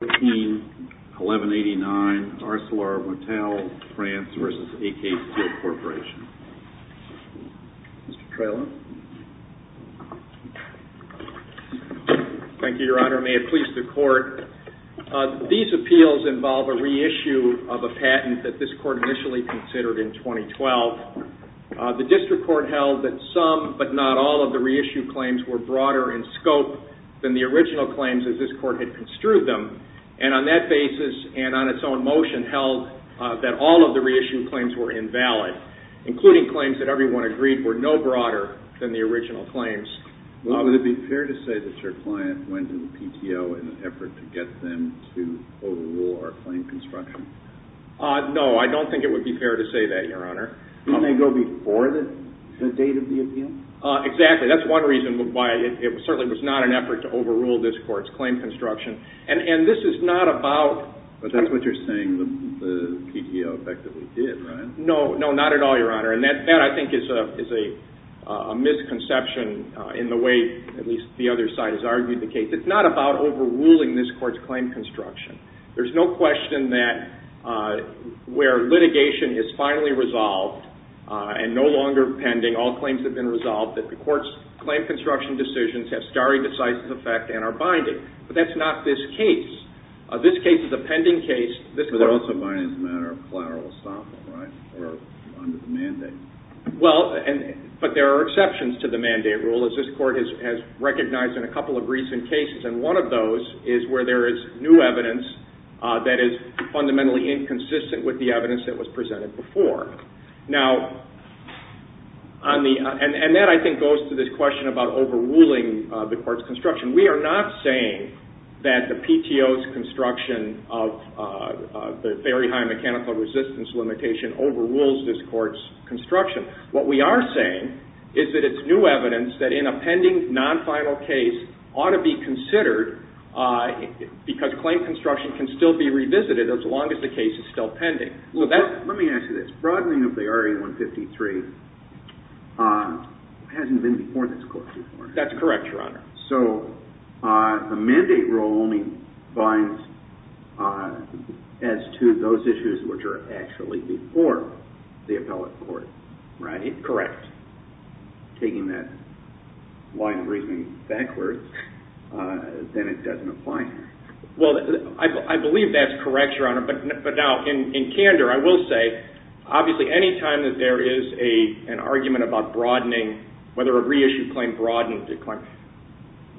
1189, ArcelorMittal France v. AK Steel Corporation. Mr. Trelo. Thank you, Your Honor. May it please the Court. These appeals involve a reissue of a patent that this Court initially considered in 2012. The District Court held that some, but not all, of the reissued claims were broader in scope than the original claims as this Court had construed them. And on that basis, and on its own motion, held that all of the reissued claims were invalid, including claims that everyone agreed were no broader than the original claims. Would it be fair to say that your client went to the PTO in an effort to get them to overrule our claim construction? No, I don't think it would be fair to say that, Your Honor. Didn't they go before the date of the appeal? Exactly. That's one reason why it certainly was not an effort to overrule this Court's claim construction. And this is not about... But that's what you're saying the PTO effectively did, right? No, not at all, Your Honor. And that, I think, is a misconception in the way, at least, the other side has argued the case. It's not about overruling this Court's claim construction. There's no question that where litigation is finally resolved and no longer pending, all claims have been resolved, that the Court's claim construction decisions have stare decisis effect and are binding. But that's not this case. This case is a pending case. But they're also binding as a matter of collateral estoppel, right? Or under the mandate. Well, but there are exceptions to the mandate rule, as this Court has recognized in a couple of recent cases. And one of those is where there is new evidence that is fundamentally inconsistent with the evidence that was presented before. Now, on the... And that, I think, goes to this question about overruling the Court's construction. We are not saying that the PTO's construction of the very high mechanical resistance limitation overrules this Court's construction. What we are saying is that it's new evidence that in a pending, non-final case ought to be considered, because claim construction can still be revisited as long as the case is still pending. Well, let me ask you this. Broadening of the RA-153 hasn't been before this Court before. That's correct, Your Honor. So, the mandate rule only binds as to those issues which are actually before the appellate court, right? Correct. Taking that wide reasoning backwards, then it doesn't apply here. Well, I believe that's correct, Your Honor. But now, in candor, I will say, obviously, any time that there is an argument about broadening, whether a reissued claim broadens the claim,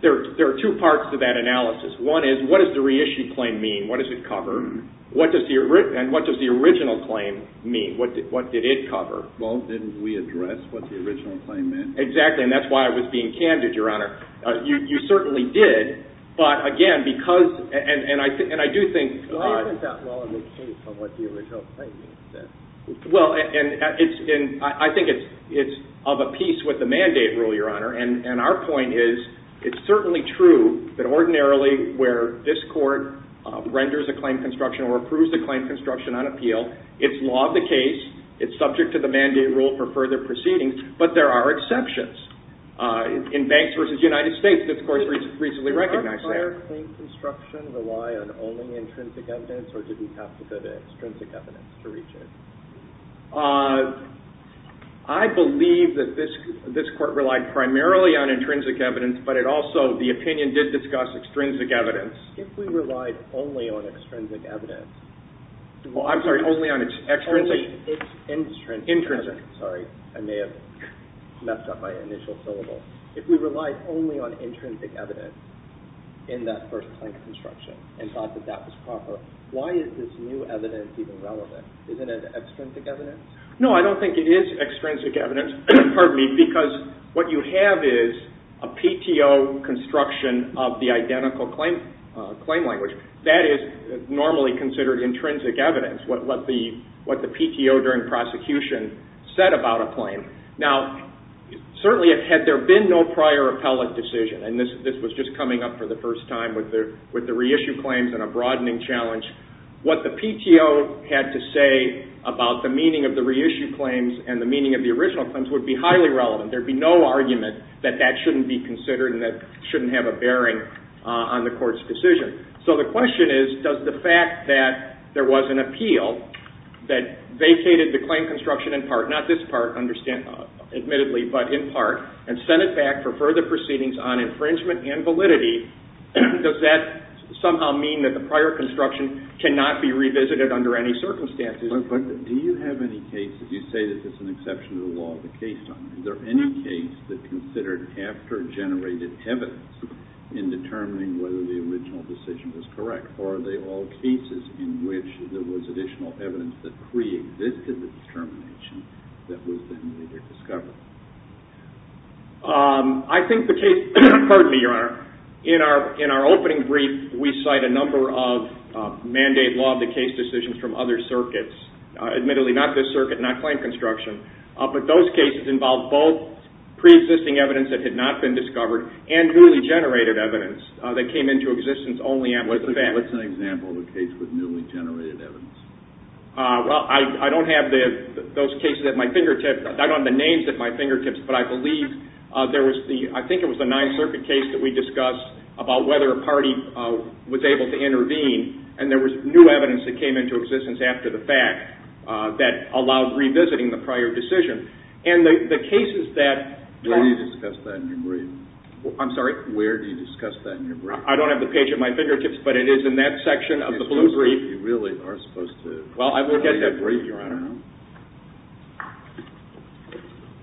there are two parts to that analysis. One is, what does the reissued claim mean? What does it cover? And what does the original claim mean? What did it cover? Well, didn't we address what the original claim meant? Exactly. And that's why I was being candid, Your Honor. You certainly did. But, again, because... And I do think... Well, and I think it's of a piece with the mandate rule, Your Honor. And our point is, it's certainly true that ordinarily where this Court renders a claim construction or approves a claim construction on appeal, it's law of the case. It's subject to the mandate rule for further proceedings. But there are exceptions. In Banks v. United States, this Court recently recognized that. Did the prior claim construction rely on only intrinsic evidence, or did we have to go to extrinsic evidence to reach it? I believe that this Court relied primarily on intrinsic evidence, but it also... The opinion did discuss extrinsic evidence. If we relied only on extrinsic evidence... Well, I'm sorry. Only on extrinsic... Only extrinsic evidence. Intrinsic. Sorry. I may have left out my initial syllable. If we relied only on intrinsic evidence in that first claim construction and thought that that was proper, why is this new evidence even relevant? Isn't it extrinsic evidence? No, I don't think it is extrinsic evidence, pardon me, because what you have is a PTO construction of the identical claim language. That is normally considered intrinsic evidence, what the PTO during prosecution said about a claim. Now, certainly had there been no prior appellate decision, and this was just coming up for the first time with the reissue claims and a broadening challenge, what the PTO had to say about the meaning of the reissue claims and the meaning of the original claims would be highly relevant. There would be no argument that that shouldn't be considered and that shouldn't have a bearing on the Court's decision. So the question is, does the fact that there was an appeal that vacated the claim construction in part, not this part admittedly, but in part, and sent it back for further proceedings on infringement and validity, does that somehow mean that the prior construction cannot be revisited under any circumstances? But do you have any cases, you say that this is an exception to the law of the case, is there any case that considered after-generated evidence in determining whether the original decision was correct? Or are they all cases in which there was additional evidence that pre-existed the determination that was then later discovered? I think the case, pardon me, Your Honor, in our opening brief, we cite a number of mandate law of the case decisions from other circuits. Admittedly, not this circuit, not claim construction, but those cases involve both pre-existing evidence that had not been discovered and newly-generated evidence that came into existence only after the fact. What's an example of a case with newly-generated evidence? Well, I don't have those cases at my fingertips. I don't have the names at my fingertips, but I believe there was the, I think it was the Ninth Circuit case that we discussed about whether a party was able to intervene, and there was new evidence that came into existence after the fact that allowed revisiting the prior decision. And the cases that... Where do you discuss that in your brief? I'm sorry? Where do you discuss that in your brief? I don't have the page at my fingertips, but it is in that section of the blue brief. It's in your brief. You really are supposed to... Well, I will get that brief, Your Honor.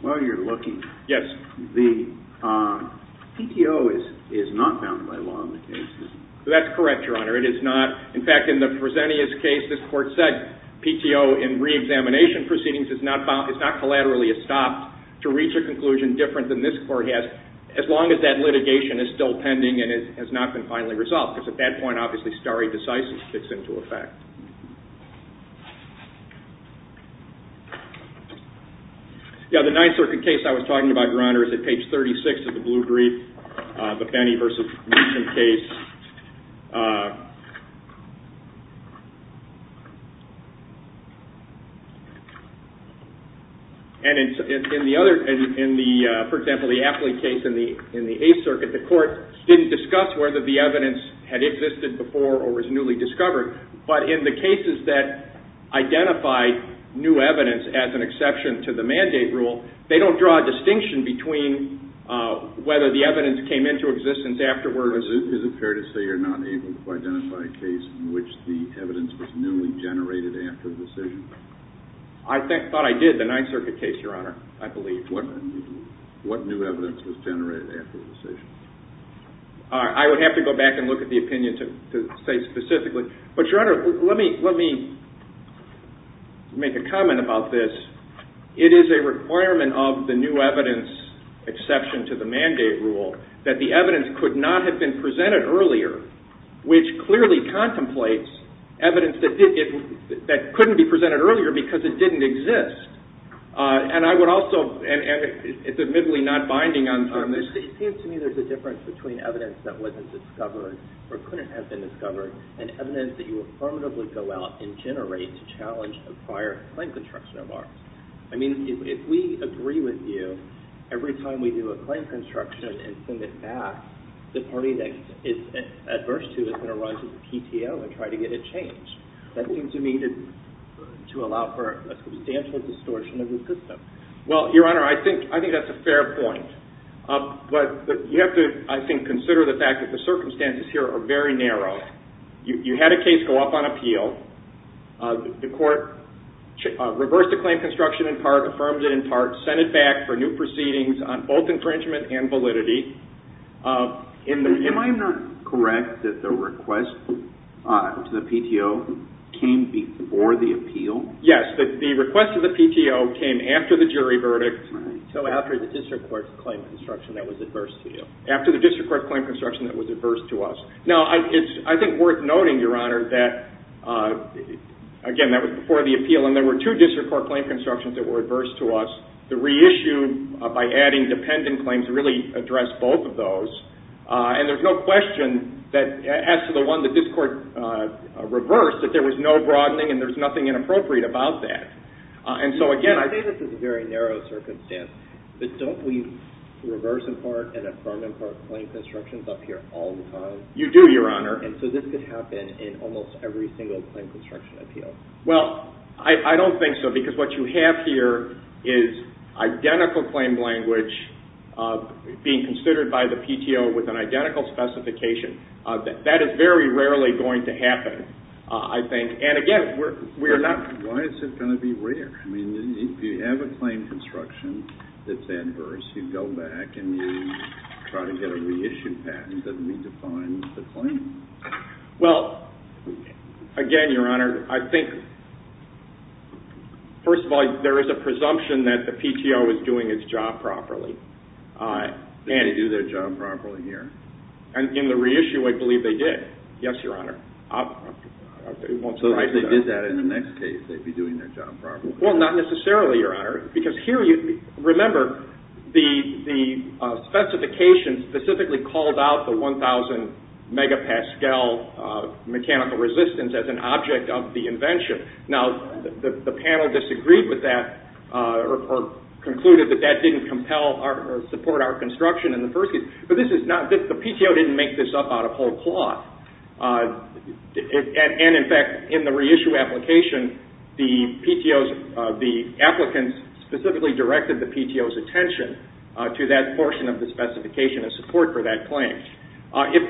While you're looking... Yes. The PTO is not bound by law in the case, is it? That's correct, Your Honor. It is not. In fact, in the Fresenius case, this court said PTO in reexamination proceedings is not collaterally estopped to reach a conclusion different than this court has, as long as that litigation is still pending and it has not been finally resolved, because at that point, obviously, stare decisis kicks into effect. The Ninth Circuit case I was talking about, Your Honor, is at page 36 of the blue brief, the Benny v. Meechan case. And in the other... For example, the Apley case in the Eighth Circuit, the court didn't discuss whether the evidence had existed before or was newly discovered, but in the cases that identify new evidence as an exception to the mandate rule, they don't draw a distinction between whether the evidence came into existence afterwards... Is it fair to say you're not able to identify a case in which the evidence was newly generated after the decision? I thought I did, the Ninth Circuit case, Your Honor, I believe. What new evidence was generated after the decision? I would have to go back and look at the opinion to say specifically. But, Your Honor, let me make a comment about this. It is a requirement of the new evidence exception to the mandate rule that the evidence could not have been presented earlier, which clearly contemplates evidence that couldn't be presented earlier because it didn't exist. And I would also... It's admittedly not binding on this... It seems to me there's a difference between evidence that wasn't discovered or couldn't have been discovered and evidence that you affirmatively go out and generate to challenge the prior claim construction of ours. I mean, if we agree with you, every time we do a claim construction and send it back, the party that is adverse to it is going to run to the PTO and try to get it changed. That seems to me to allow for a substantial distortion of the system. Well, Your Honor, I think that's a fair point. But you have to, I think, consider the fact that the circumstances here are very narrow. You had a case go up on appeal. The court reversed the claim construction in part, affirmed it in part, sent it back for new proceedings on both infringement and validity. Am I not correct that the request to the PTO came before the appeal? Yes, the request to the PTO came after the jury verdict. So after the district court's claim construction that was adverse to you. After the district court's claim construction that was adverse to us. Now, I think it's worth noting, Your Honor, that, again, that was before the appeal, and there were two district court claim constructions that were adverse to us. The reissue, by adding dependent claims, really addressed both of those. And there's no question that, as to the one that this court reversed, that there was no broadening and there's nothing inappropriate about that. I say this is a very narrow circumstance, but don't we reverse in part and affirm in part claim constructions up here all the time? You do, Your Honor. And so this could happen in almost every single claim construction appeal? Well, I don't think so, because what you have here is identical claim language being considered by the PTO with an identical specification. That is very rarely going to happen, I think. Why is it going to be rare? I mean, if you have a claim construction that's adverse, you go back and you try to get a reissue patent that redefines the claim. Well, again, Your Honor, I think, first of all, there is a presumption that the PTO is doing its job properly. Did they do their job properly here? In the reissue, I believe they did. Yes, Your Honor. So if they did that in the next case, they'd be doing their job properly? Well, not necessarily, Your Honor, because here, remember, the specification specifically called out the 1,000 megapascal mechanical resistance as an object of the invention. Now, the panel disagreed with that or concluded that that didn't support our construction in the first case. But the PTO didn't make this up out of whole cloth. And, in fact, in the reissue application, the applicants specifically directed the PTO's attention to that portion of the specification in support for that claim.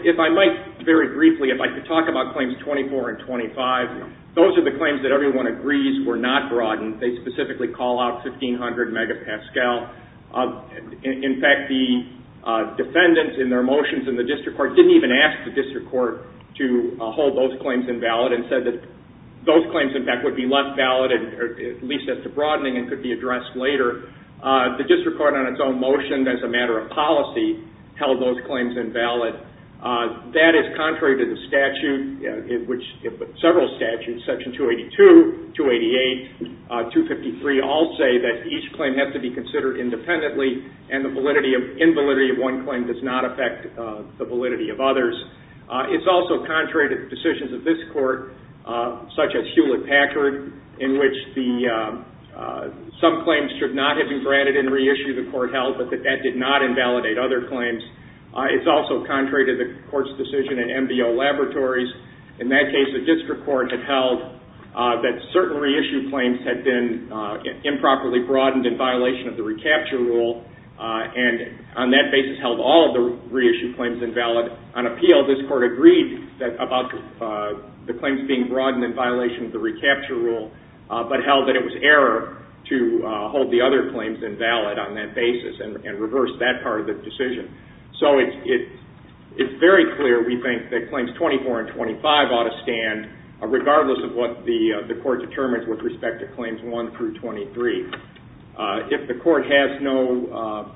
If I might, very briefly, if I could talk about claims 24 and 25, those are the claims that everyone agrees were not broadened. They specifically call out 1,500 megapascal. In fact, the defendants in their motions in the district court didn't even ask the district court to hold those claims invalid and said that those claims, in fact, would be less valid, at least as to broadening, and could be addressed later. The district court, on its own motion, as a matter of policy, held those claims invalid. That is contrary to the statute, which several statutes, Section 282, 288, 253, all say that each claim has to be considered independently and the invalidity of one claim does not affect the validity of others. It's also contrary to decisions of this court, such as Hewlett-Packard, in which some claims should not have been granted in reissue the court held, but that that did not invalidate other claims. It's also contrary to the court's decision in MBO Laboratories. In that case, the district court had held that certain reissue claims had been improperly broadened in violation of the recapture rule, and on that basis held all of the reissue claims invalid. On appeal, this court agreed about the claims being broadened in violation of the recapture rule, but held that it was error to hold the other claims invalid on that basis and reversed that part of the decision. So it's very clear, we think, that claims 24 and 25 ought to stand, regardless of what the court determines with respect to claims 1 through 23. If the court has no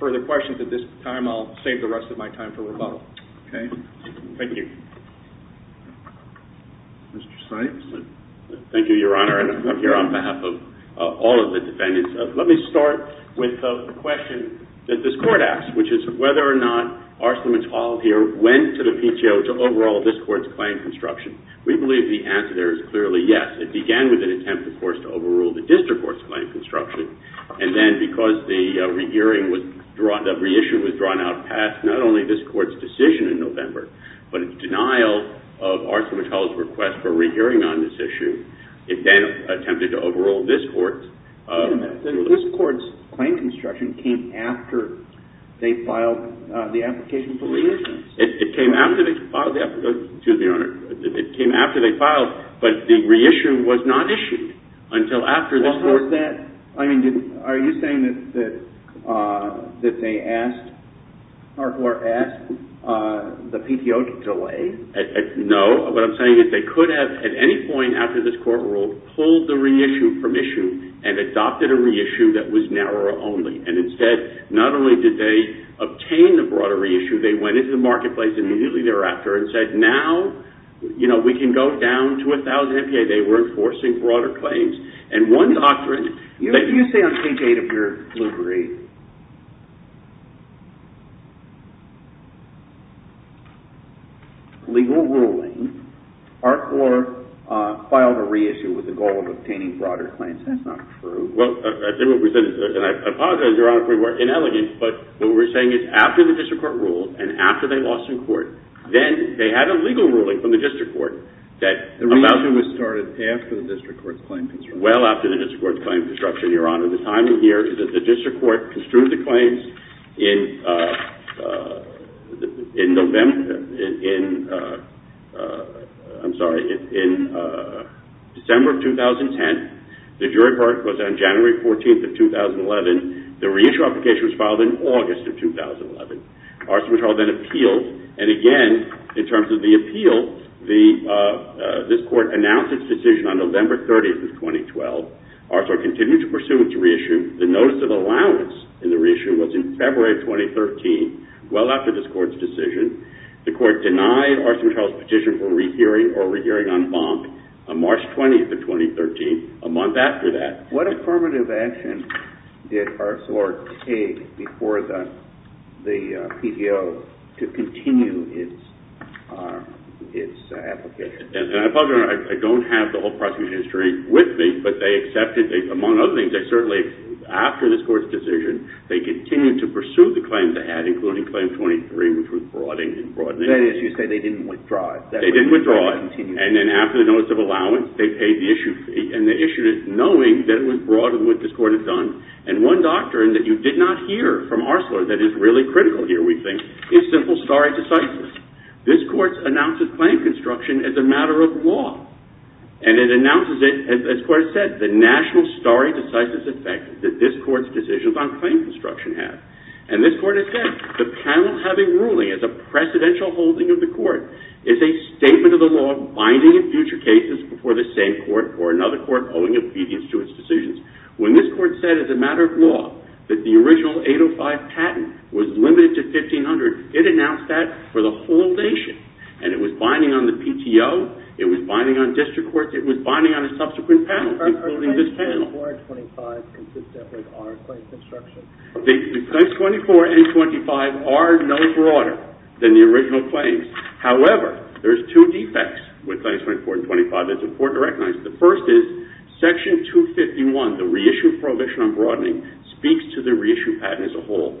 further questions at this time, I'll save the rest of my time for rebuttal. Okay. Thank you. Mr. Sykes. Thank you, Your Honor, and I'm here on behalf of all of the defendants. Let me start with a question that this court asked, which is whether or not Arslan and Tal here went to the PTO to overhaul this court's claim construction. We believe the answer there is clearly yes. It began with an attempt, of course, to overhaul the district court's claim construction, and then because the reissue was drawn out past not only this court's decision in November, but in denial of Arslan and Tal's request for a rehearing on this issue, it then attempted to overhaul this court's. Wait a minute. This court's claim construction came after they filed the application for reissuance. It came after they filed the application. Excuse me, Your Honor. It came after they filed, but the reissue was not issued until after this court. Well, how is that? I mean, are you saying that they asked or asked the PTO to delay? No. What I'm saying is they could have at any point after this court ruled, pulled the reissue from issue and adopted a reissue that was narrower only, and instead not only did they obtain the broader reissue, they went into the marketplace immediately thereafter and said, now we can go down to 1,000 MPA. They were enforcing broader claims, and one doctrine. You say on page 8 of your library, legal ruling, Art 4 filed a reissue with the goal of obtaining broader claims. That's not true. Well, I think what we said is, and I apologize, Your Honor, we were inelegant, but what we're saying is after the district court ruled and after they lost in court, then they had a legal ruling from the district court. The reissue was started after the district court's claim construction. Well, after the district court's claim construction, Your Honor. The timing here is that the district court construed the claims in November, I'm sorry, in December of 2010. The jury court was on January 14th of 2011. The reissue application was filed in August of 2011. R.C. Mitchell then appealed, and again, in terms of the appeal, this court announced its decision on November 30th of 2012. R.C. Mitchell continued to pursue its reissue. The notice of allowance in the reissue was in February of 2013. Well after this court's decision, the court denied R.C. Mitchell's petition for rehearing or rehearing en banc on March 20th of 2013, a month after that. What affirmative action did R.C. take before the PDO to continue its application? And I apologize, Your Honor, I don't have the whole prosecution history with me, but they accepted, among other things, they certainly, after this court's decision, they continued to pursue the claims they had, including Claim 23, which was broadening. That is, you say they didn't withdraw it. They didn't withdraw it, and then after the notice of allowance, they paid the issue fee. And they issued it knowing that it was broadened what this court had done. And one doctrine that you did not hear from Arcelor that is really critical here, we think, is simple stare decisis. This court announces claim construction as a matter of law. And it announces it, as the court has said, the national stare decisis effect that this court's decision on claim construction has. And this court has said, the panel having ruling as a precedential holding of the court is a statement of the law binding in future cases before the same court or another court owing obedience to its decisions. When this court said as a matter of law that the original 805 patent was limited to 1500, it announced that for the whole nation. And it was binding on the PTO. It was binding on district courts. It was binding on a subsequent panel, including this panel. Are Claims 24 and 25 consistent with our claim construction? The Claims 24 and 25 are no broader than the original claims. However, there's two defects with Claims 24 and 25. It's important to recognize. The first is, Section 251, the reissue prohibition on broadening, speaks to the reissue patent as a whole.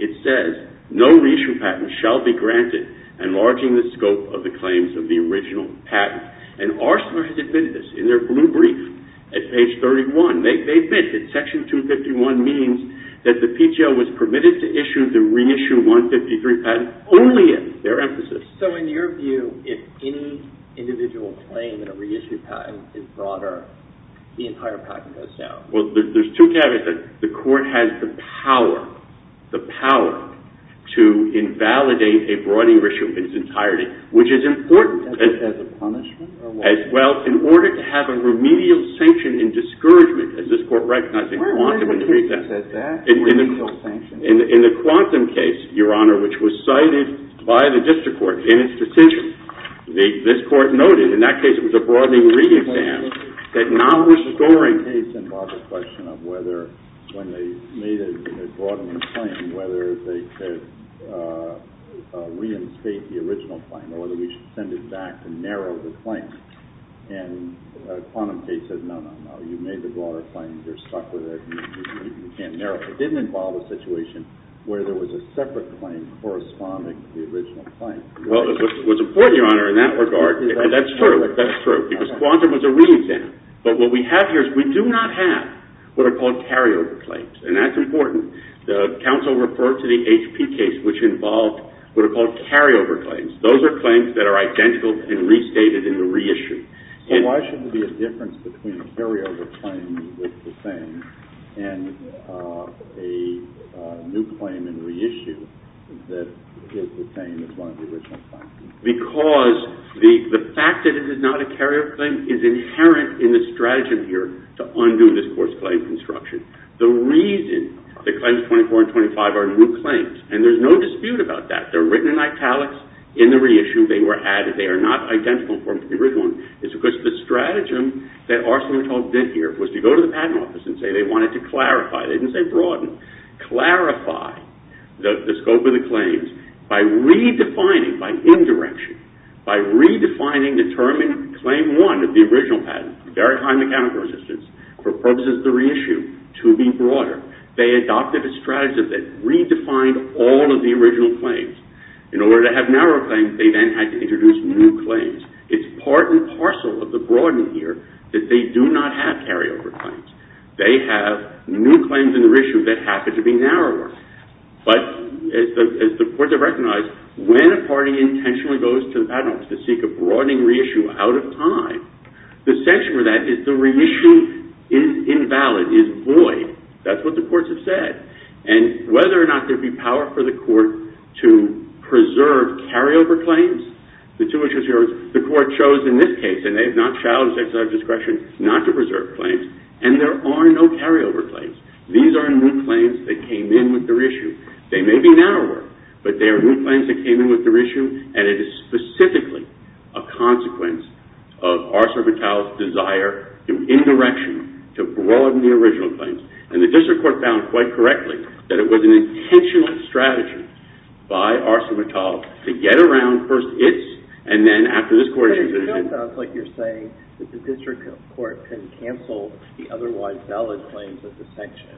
It says, no reissue patent shall be granted, enlarging the scope of the claims of the original patent. And Arcelor has admitted this in their blue brief at page 31. So in your view, if any individual claim in a reissue patent is broader, the entire patent goes down? Well, there's two caveats. The court has the power, the power, to invalidate a broadening issue of its entirety, which is important. As a punishment? Well, in order to have a remedial sanction in discouragement, as this court recognized in Quantum and the Free Patent. A remedial sanction? In the Quantum and the Free Patent, the Quantum case, Your Honor, which was cited by the district court in its decision, this court noted, in that case, it was a broadening re-exam that now was scoring. Quantum case involved a question of whether, when they made a broader claim, whether they could reinstate the original claim, or whether we should send it back to narrow the claim. And Quantum case said, no, no, no. You made the broader claim. You're stuck with it. You can't narrow it. It didn't involve a situation where there was a separate claim corresponding to the original claim. Well, it was important, Your Honor, in that regard. That's true. That's true. Because Quantum was a re-exam. But what we have here is we do not have what are called carryover claims. And that's important. The counsel referred to the HP case, which involved what are called carryover claims. Those are claims that are identical and restated in the re-issue. So why should there be a difference between a carryover claim with the same and a new claim in re-issue that is the same as one of the original claims? Because the fact that it is not a carryover claim is inherent in the strategy here to undo this forced claim construction. The reason that claims 24 and 25 are new claims, and there's no dispute about that. They're written in italics. In the re-issue, they were added. They are not identical from the original. It's because the strategy that Arsenault did here was to go to the patent office and say they wanted to clarify. They didn't say broaden. Clarify the scope of the claims by redefining, by indirection, by redefining the term in Claim 1 of the original patent, very high mechanical resistance, for purposes of the re-issue, to be broader. They adopted a strategy that redefined all of the original claims. In order to have narrow claims, they then had to introduce new claims. It's part and parcel of the broadening here that they do not have carryover claims. They have new claims in the re-issue that happen to be narrower. But as the courts have recognized, when a party intentionally goes to the patent office to seek a broadening re-issue out of time, the sanction for that is the re-issue is invalid, is void. That's what the courts have said. And whether or not there would be power for the court to preserve carryover claims, the two issues here is the court chose in this case, and they have not challenged their discretion, not to preserve claims. And there are no carryover claims. These are new claims that came in with the re-issue. They may be narrower, but they are new claims that came in with the re-issue, and it is specifically a consequence of Arsenault's desire, through indirection, to broaden the original claims. And the district court found quite correctly that it was an intentional strategy by Arsenault to get around first its, and then after this court's decision. But it still sounds like you're saying that the district court can cancel the otherwise valid claims of the sanction.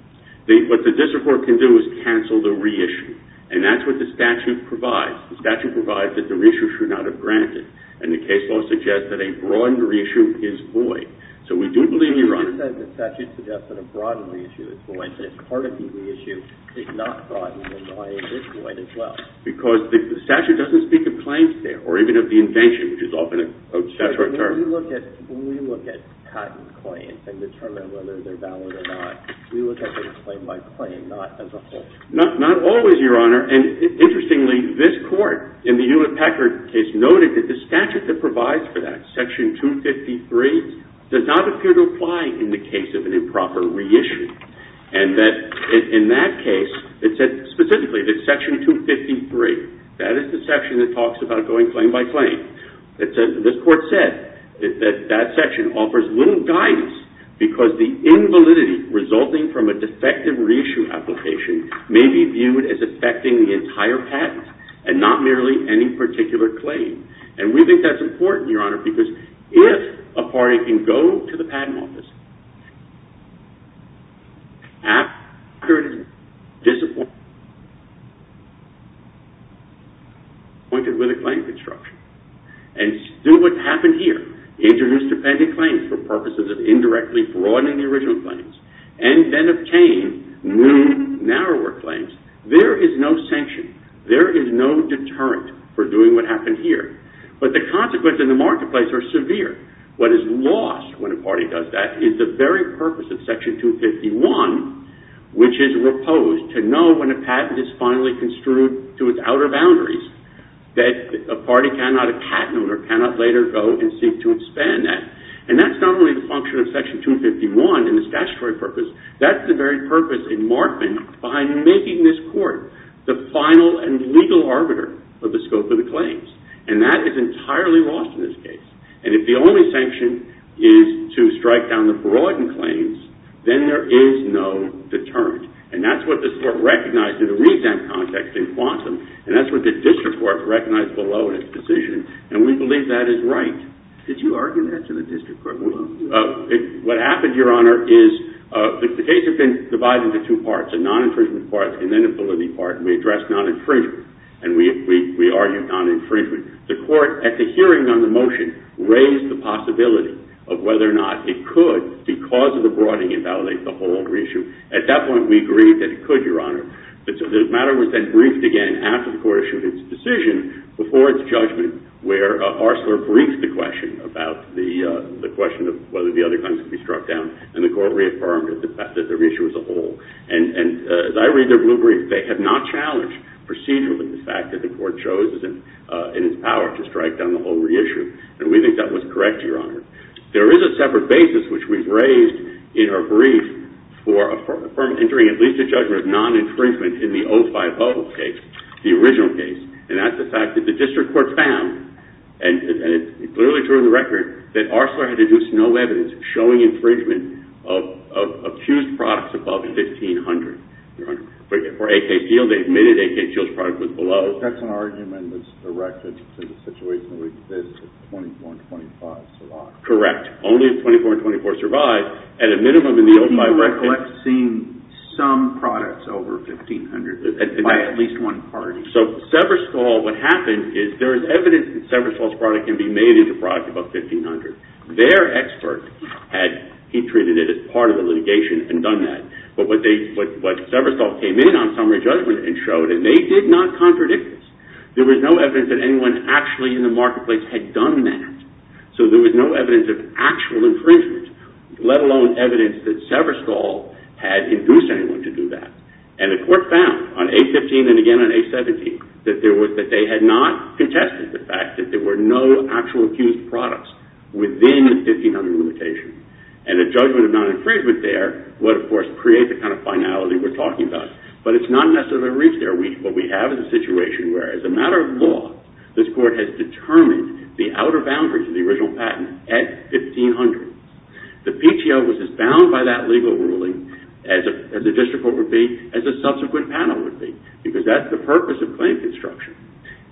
What the district court can do is cancel the re-issue. And that's what the statute provides. The statute provides that the re-issue should not have granted. And the case law suggests that a broad re-issue is void. So we do believe, Your Honor... The statute suggests that a broad re-issue is void, but if part of the re-issue is not broad, then why is it void as well? Because the statute doesn't speak of claims there, or even of the invention, which is often a statutory term. When we look at patent claims and determine whether they're valid or not, we look at them claim by claim, not as a whole. Not always, Your Honor. And interestingly, this court, in the Hewlett-Packard case, noted that the statute that provides for that, Section 253, does not appear to apply in the case of an improper re-issue. And that, in that case, it said specifically that Section 253, that is the section that talks about going claim by claim, this court said that that section offers little guidance because the invalidity resulting from a defective re-issue application may be viewed as affecting the entire patent and not merely any particular claim. And we think that's important, Your Honor, because if a party can go to the patent office after it has disappointed with a claim construction and do what happened here, introduced a patent claim for purposes of indirectly broadening the original claims and then obtain new, narrower claims, there is no sanction. There is no deterrent for doing what happened here. But the consequences in the marketplace are severe. What is lost when a party does that is the very purpose of Section 251, which is reposed to know when a patent is finally construed to its outer boundaries that a party cannot patent or cannot later go and seek to expand that. And that's not only the function of Section 251 in its statutory purpose, that's the very purpose in Markman behind making this court the final and legal arbiter of the scope of the claims. And that is entirely lost in this case. And if the only sanction is to strike down the broadened claims, then there is no deterrent. And that's what this Court recognized in the re-exempt context in Quantum, and that's what the District Court recognized below in its decision, and we believe that is right. Did you argue that to the District Court? What happened, Your Honor, is the case has been divided into two parts, a non-infringement part and then a validity part, and we addressed non-infringement. And we argued non-infringement. The Court, at the hearing on the motion, raised the possibility of whether or not it could, because of the broadening, invalidate the whole reissue. At that point, we agreed that it could, Your Honor. The matter was then briefed again after the Court issued its decision before its judgment where Arcelor briefed the question about the question of whether the other claims could be struck down, and the Court reaffirmed that the reissue was a whole. And as I read their blue brief, they have not challenged procedurally the fact that the Court chose in its power to strike down the whole reissue. And we think that was correct, Your Honor. There is a separate basis which we've raised in our brief for entering at least a judgment of non-infringement in the 050 case, the original case, and that's the fact that the District Court found, and it's clearly true in the record, that Arcelor had deduced no evidence showing infringement of accused products above the 1500, Your Honor. For AK Peel, they admitted AK Peel's product was below. That's an argument that's directed to the situation that 24 and 25 survived. Correct. Only if 24 and 24 survived, at a minimum in the 05 record. I'm recollecting some products over 1500 by at least one party. So Severstall, what happened is there is evidence that Severstall's product can be made into product above 1500. Their expert had, he treated it as part of the litigation and done that. But what Severstall came in on was a summary judgment and showed that they did not contradict this. There was no evidence that anyone actually in the marketplace had done that. So there was no evidence of actual infringement, let alone evidence that Severstall had induced anyone to do that. And the court found, on A15 and again on A17, that they had not contested the fact that there were no actual accused products within the 1500 limitation. And a judgment of non-infringement there would, of course, create the kind of finality we're talking about. But it's not necessarily reached there. What we have is a situation where, as a matter of law, this court has determined the outer boundaries of the original patent at 1500. The PTO was as bound by that legal ruling as the district court would be, as the subsequent panel would be, because that's the purpose of claim construction.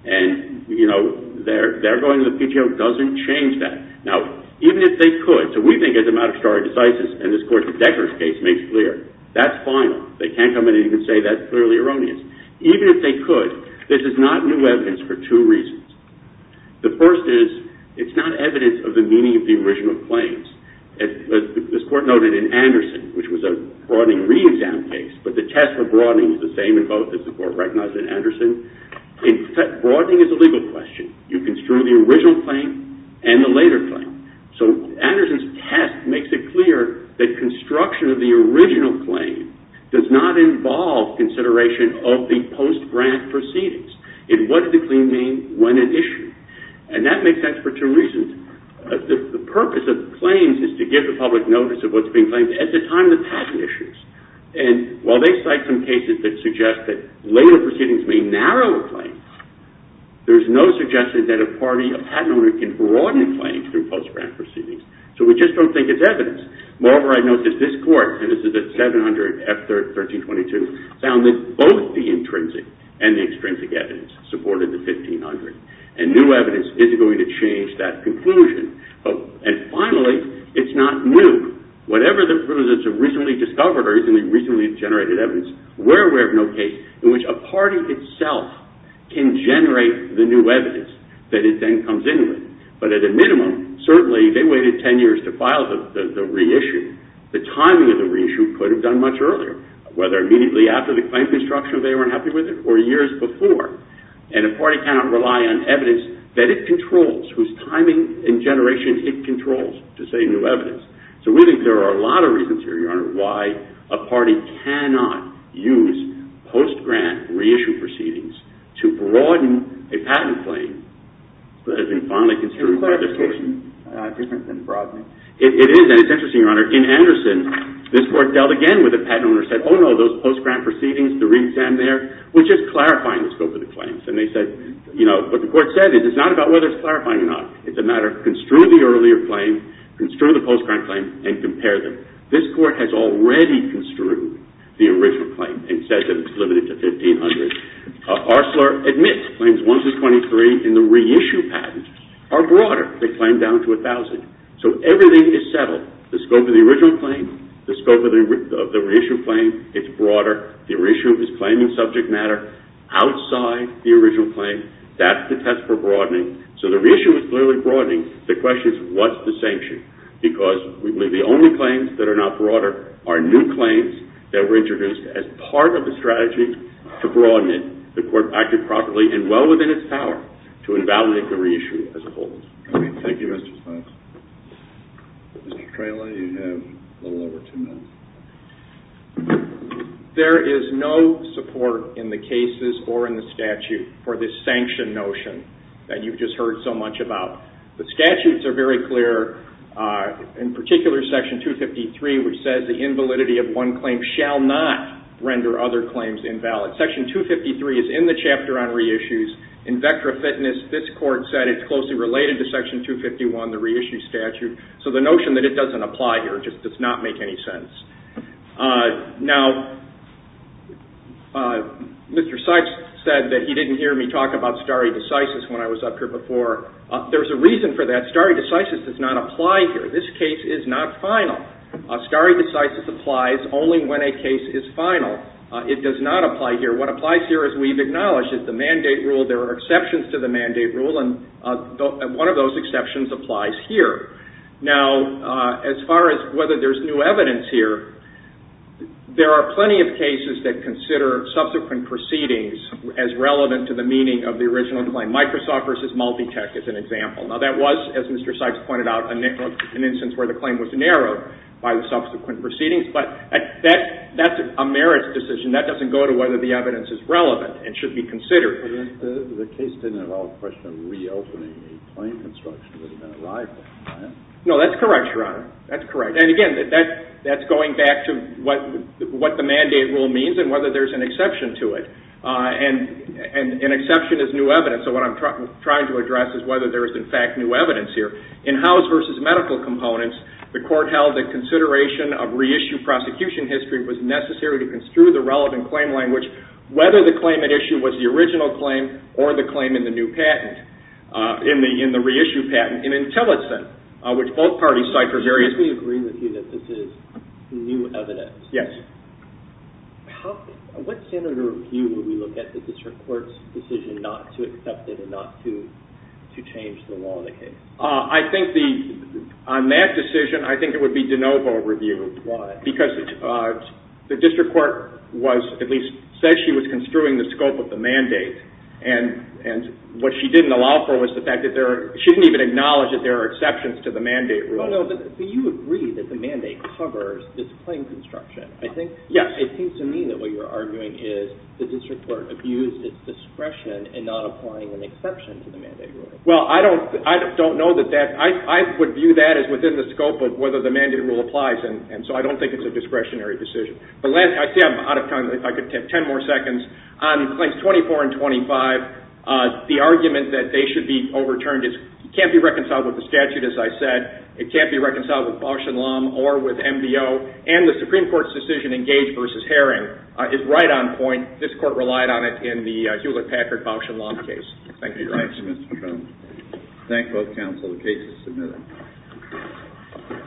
And, you know, their going to the PTO doesn't change that. Now, even if they could, so we think as a matter of stare decisis, and this court's declarative case makes clear, that's final. They can't come in and even say that's clearly erroneous. Even if they could, this is not new evidence for two reasons. The first is, it's not evidence of the meaning of the original claims. As this court noted in Anderson, which was a broadening re-exam case, but the test for broadening is the same in both as the court recognized in Anderson. In fact, broadening is a legal question. You construe the original claim and the later claim. So Anderson's test makes it clear that construction of the original claim does not involve consideration of the post-grant proceedings. And what did the claim mean when it issued? And that makes sense for two reasons. The purpose of the claims is to give the public notice of what's being claimed at the time the patent issues. And while they cite some cases that suggest that later proceedings may narrow a claim, there's no suggestion that a party, a patent owner, can broaden claims through post-grant proceedings. So we just don't think it's evidence. Moreover, I note that this court, and this is at 700 F 1322, found that both the intrinsic and the extrinsic evidence supported the 1500. And new evidence isn't going to change that conclusion. And finally, it's not new. Whatever the proofs that have recently discovered or recently generated evidence, we're aware of no case in which a party itself can generate the new evidence that it then comes in with. But at a minimum, certainly they waited 10 years to file the reissue. The timing of the reissue could have done much earlier, whether immediately after the claim construction they weren't happy with it, or years before. And a party cannot rely on evidence that it controls, whose timing and generation it controls to say new evidence. So we think there are a lot of reasons here, Your Honor, why a party cannot use post-grant reissue proceedings to broaden a patent claim Is the clarification different than broadening? It is, and it's interesting, Your Honor. In Anderson, this Court dealt again with a patent owner who said, oh no, those post-grant proceedings, the re-exam there, which is clarifying the scope of the claims. And they said, you know, what the Court said is it's not about whether it's clarifying or not. It's a matter of construe the earlier claim, construe the post-grant claim, and compare them. This Court has already construed the original claim and said that it's limited to 1500. Arcelor admits Claims 1-23 in the reissue patent are broader. They claim down to 1000. So everything is settled. The scope of the original claim, the scope of the reissue claim, it's broader. The reissue is claiming subject matter outside the original claim. That's the test for broadening. So the reissue is clearly broadening. The question is, what's the sanction? Because the only claims that are not broader are new claims that were introduced as part of the strategy to broaden it. The Court acted properly and well within its power to invalidate the reissue as a whole. Thank you, Mr. Spence. Mr. Traley, you have a little over two minutes. There is no support in the cases or in the statute for this sanction notion that you've just heard so much about. The statutes are very clear. In particular, Section 253, which says the invalidity of one claim shall not render other claims invalid. Section 253 is in the chapter on reissues. In Vectra Fitness, this Court said it's closely related to Section 251, the reissue statute. So the notion that it doesn't apply here just does not make any sense. Now, Mr. Sykes said that he didn't hear me talk about stare decisis when I was up here before. There's a reason for that. Stare decisis does not apply here. This case is not final. Stare decisis applies only when a case is final. It does not apply here. What applies here as we've acknowledged is the mandate rule. There are exceptions to the mandate rule and one of those exceptions applies here. Now, as far as whether there's new evidence here, there are plenty of cases that consider subsequent proceedings as relevant to the meaning of the original claim. Microsoft versus Multitech is an example. Now, that was, as Mr. Sykes pointed out, an instance where the claim was narrowed by the subsequent proceedings, but that's a merits decision. That doesn't go to whether the evidence is relevant and should be considered. The case didn't involve the question of reopening a claim construction that had been arrived at. No, that's correct, Your Honor. That's correct. And again, that's going back to what the mandate rule means and whether there's an exception to it. And an exception is new evidence. So what I'm trying to address is whether there is, in fact, new evidence here. In House versus Medical Components, the Court held that consideration of reissue prosecution history was necessary to construe the relevant claim language whether the claim at issue was the original claim or the claim in the new patent, in the reissue patent, in Intellicent, which both parties cite for various... If we agree with you that this is new evidence... Yes. How... What standard of review would we look at the district court's decision not to accept it and not to change the law of the case? I think the... On that decision, I think it would be de novo review. Why? Because the district court was at least said she was construing the scope of the mandate, and what she didn't allow for was the fact that there are... She didn't even acknowledge that there are exceptions to the mandate rule. No, no, but you agree that the mandate covers this claim construction. I think... Yes. It seems to me that what you're arguing is the district court abused its discretion in not applying an exception to the mandate rule. Well, I don't... I don't know that that... I would view that as within the scope of whether the mandate rule applies, and so I don't think it's a discretionary decision. But let... I see I'm out of time. If I could have 10 more seconds. On Claims 24 and 25, the argument that they should be overturned can't be reconciled with the statute, as I said. It can't be reconciled with Bausch & Lomb or with MBO, and the Supreme Court's decision in Gage v. Herring is right on point. This court relied on it in the Hewlett-Packard Bausch & Lomb case. Thank you. Thank you, Mr. McCombs. Thank both counsel. The case is submitted.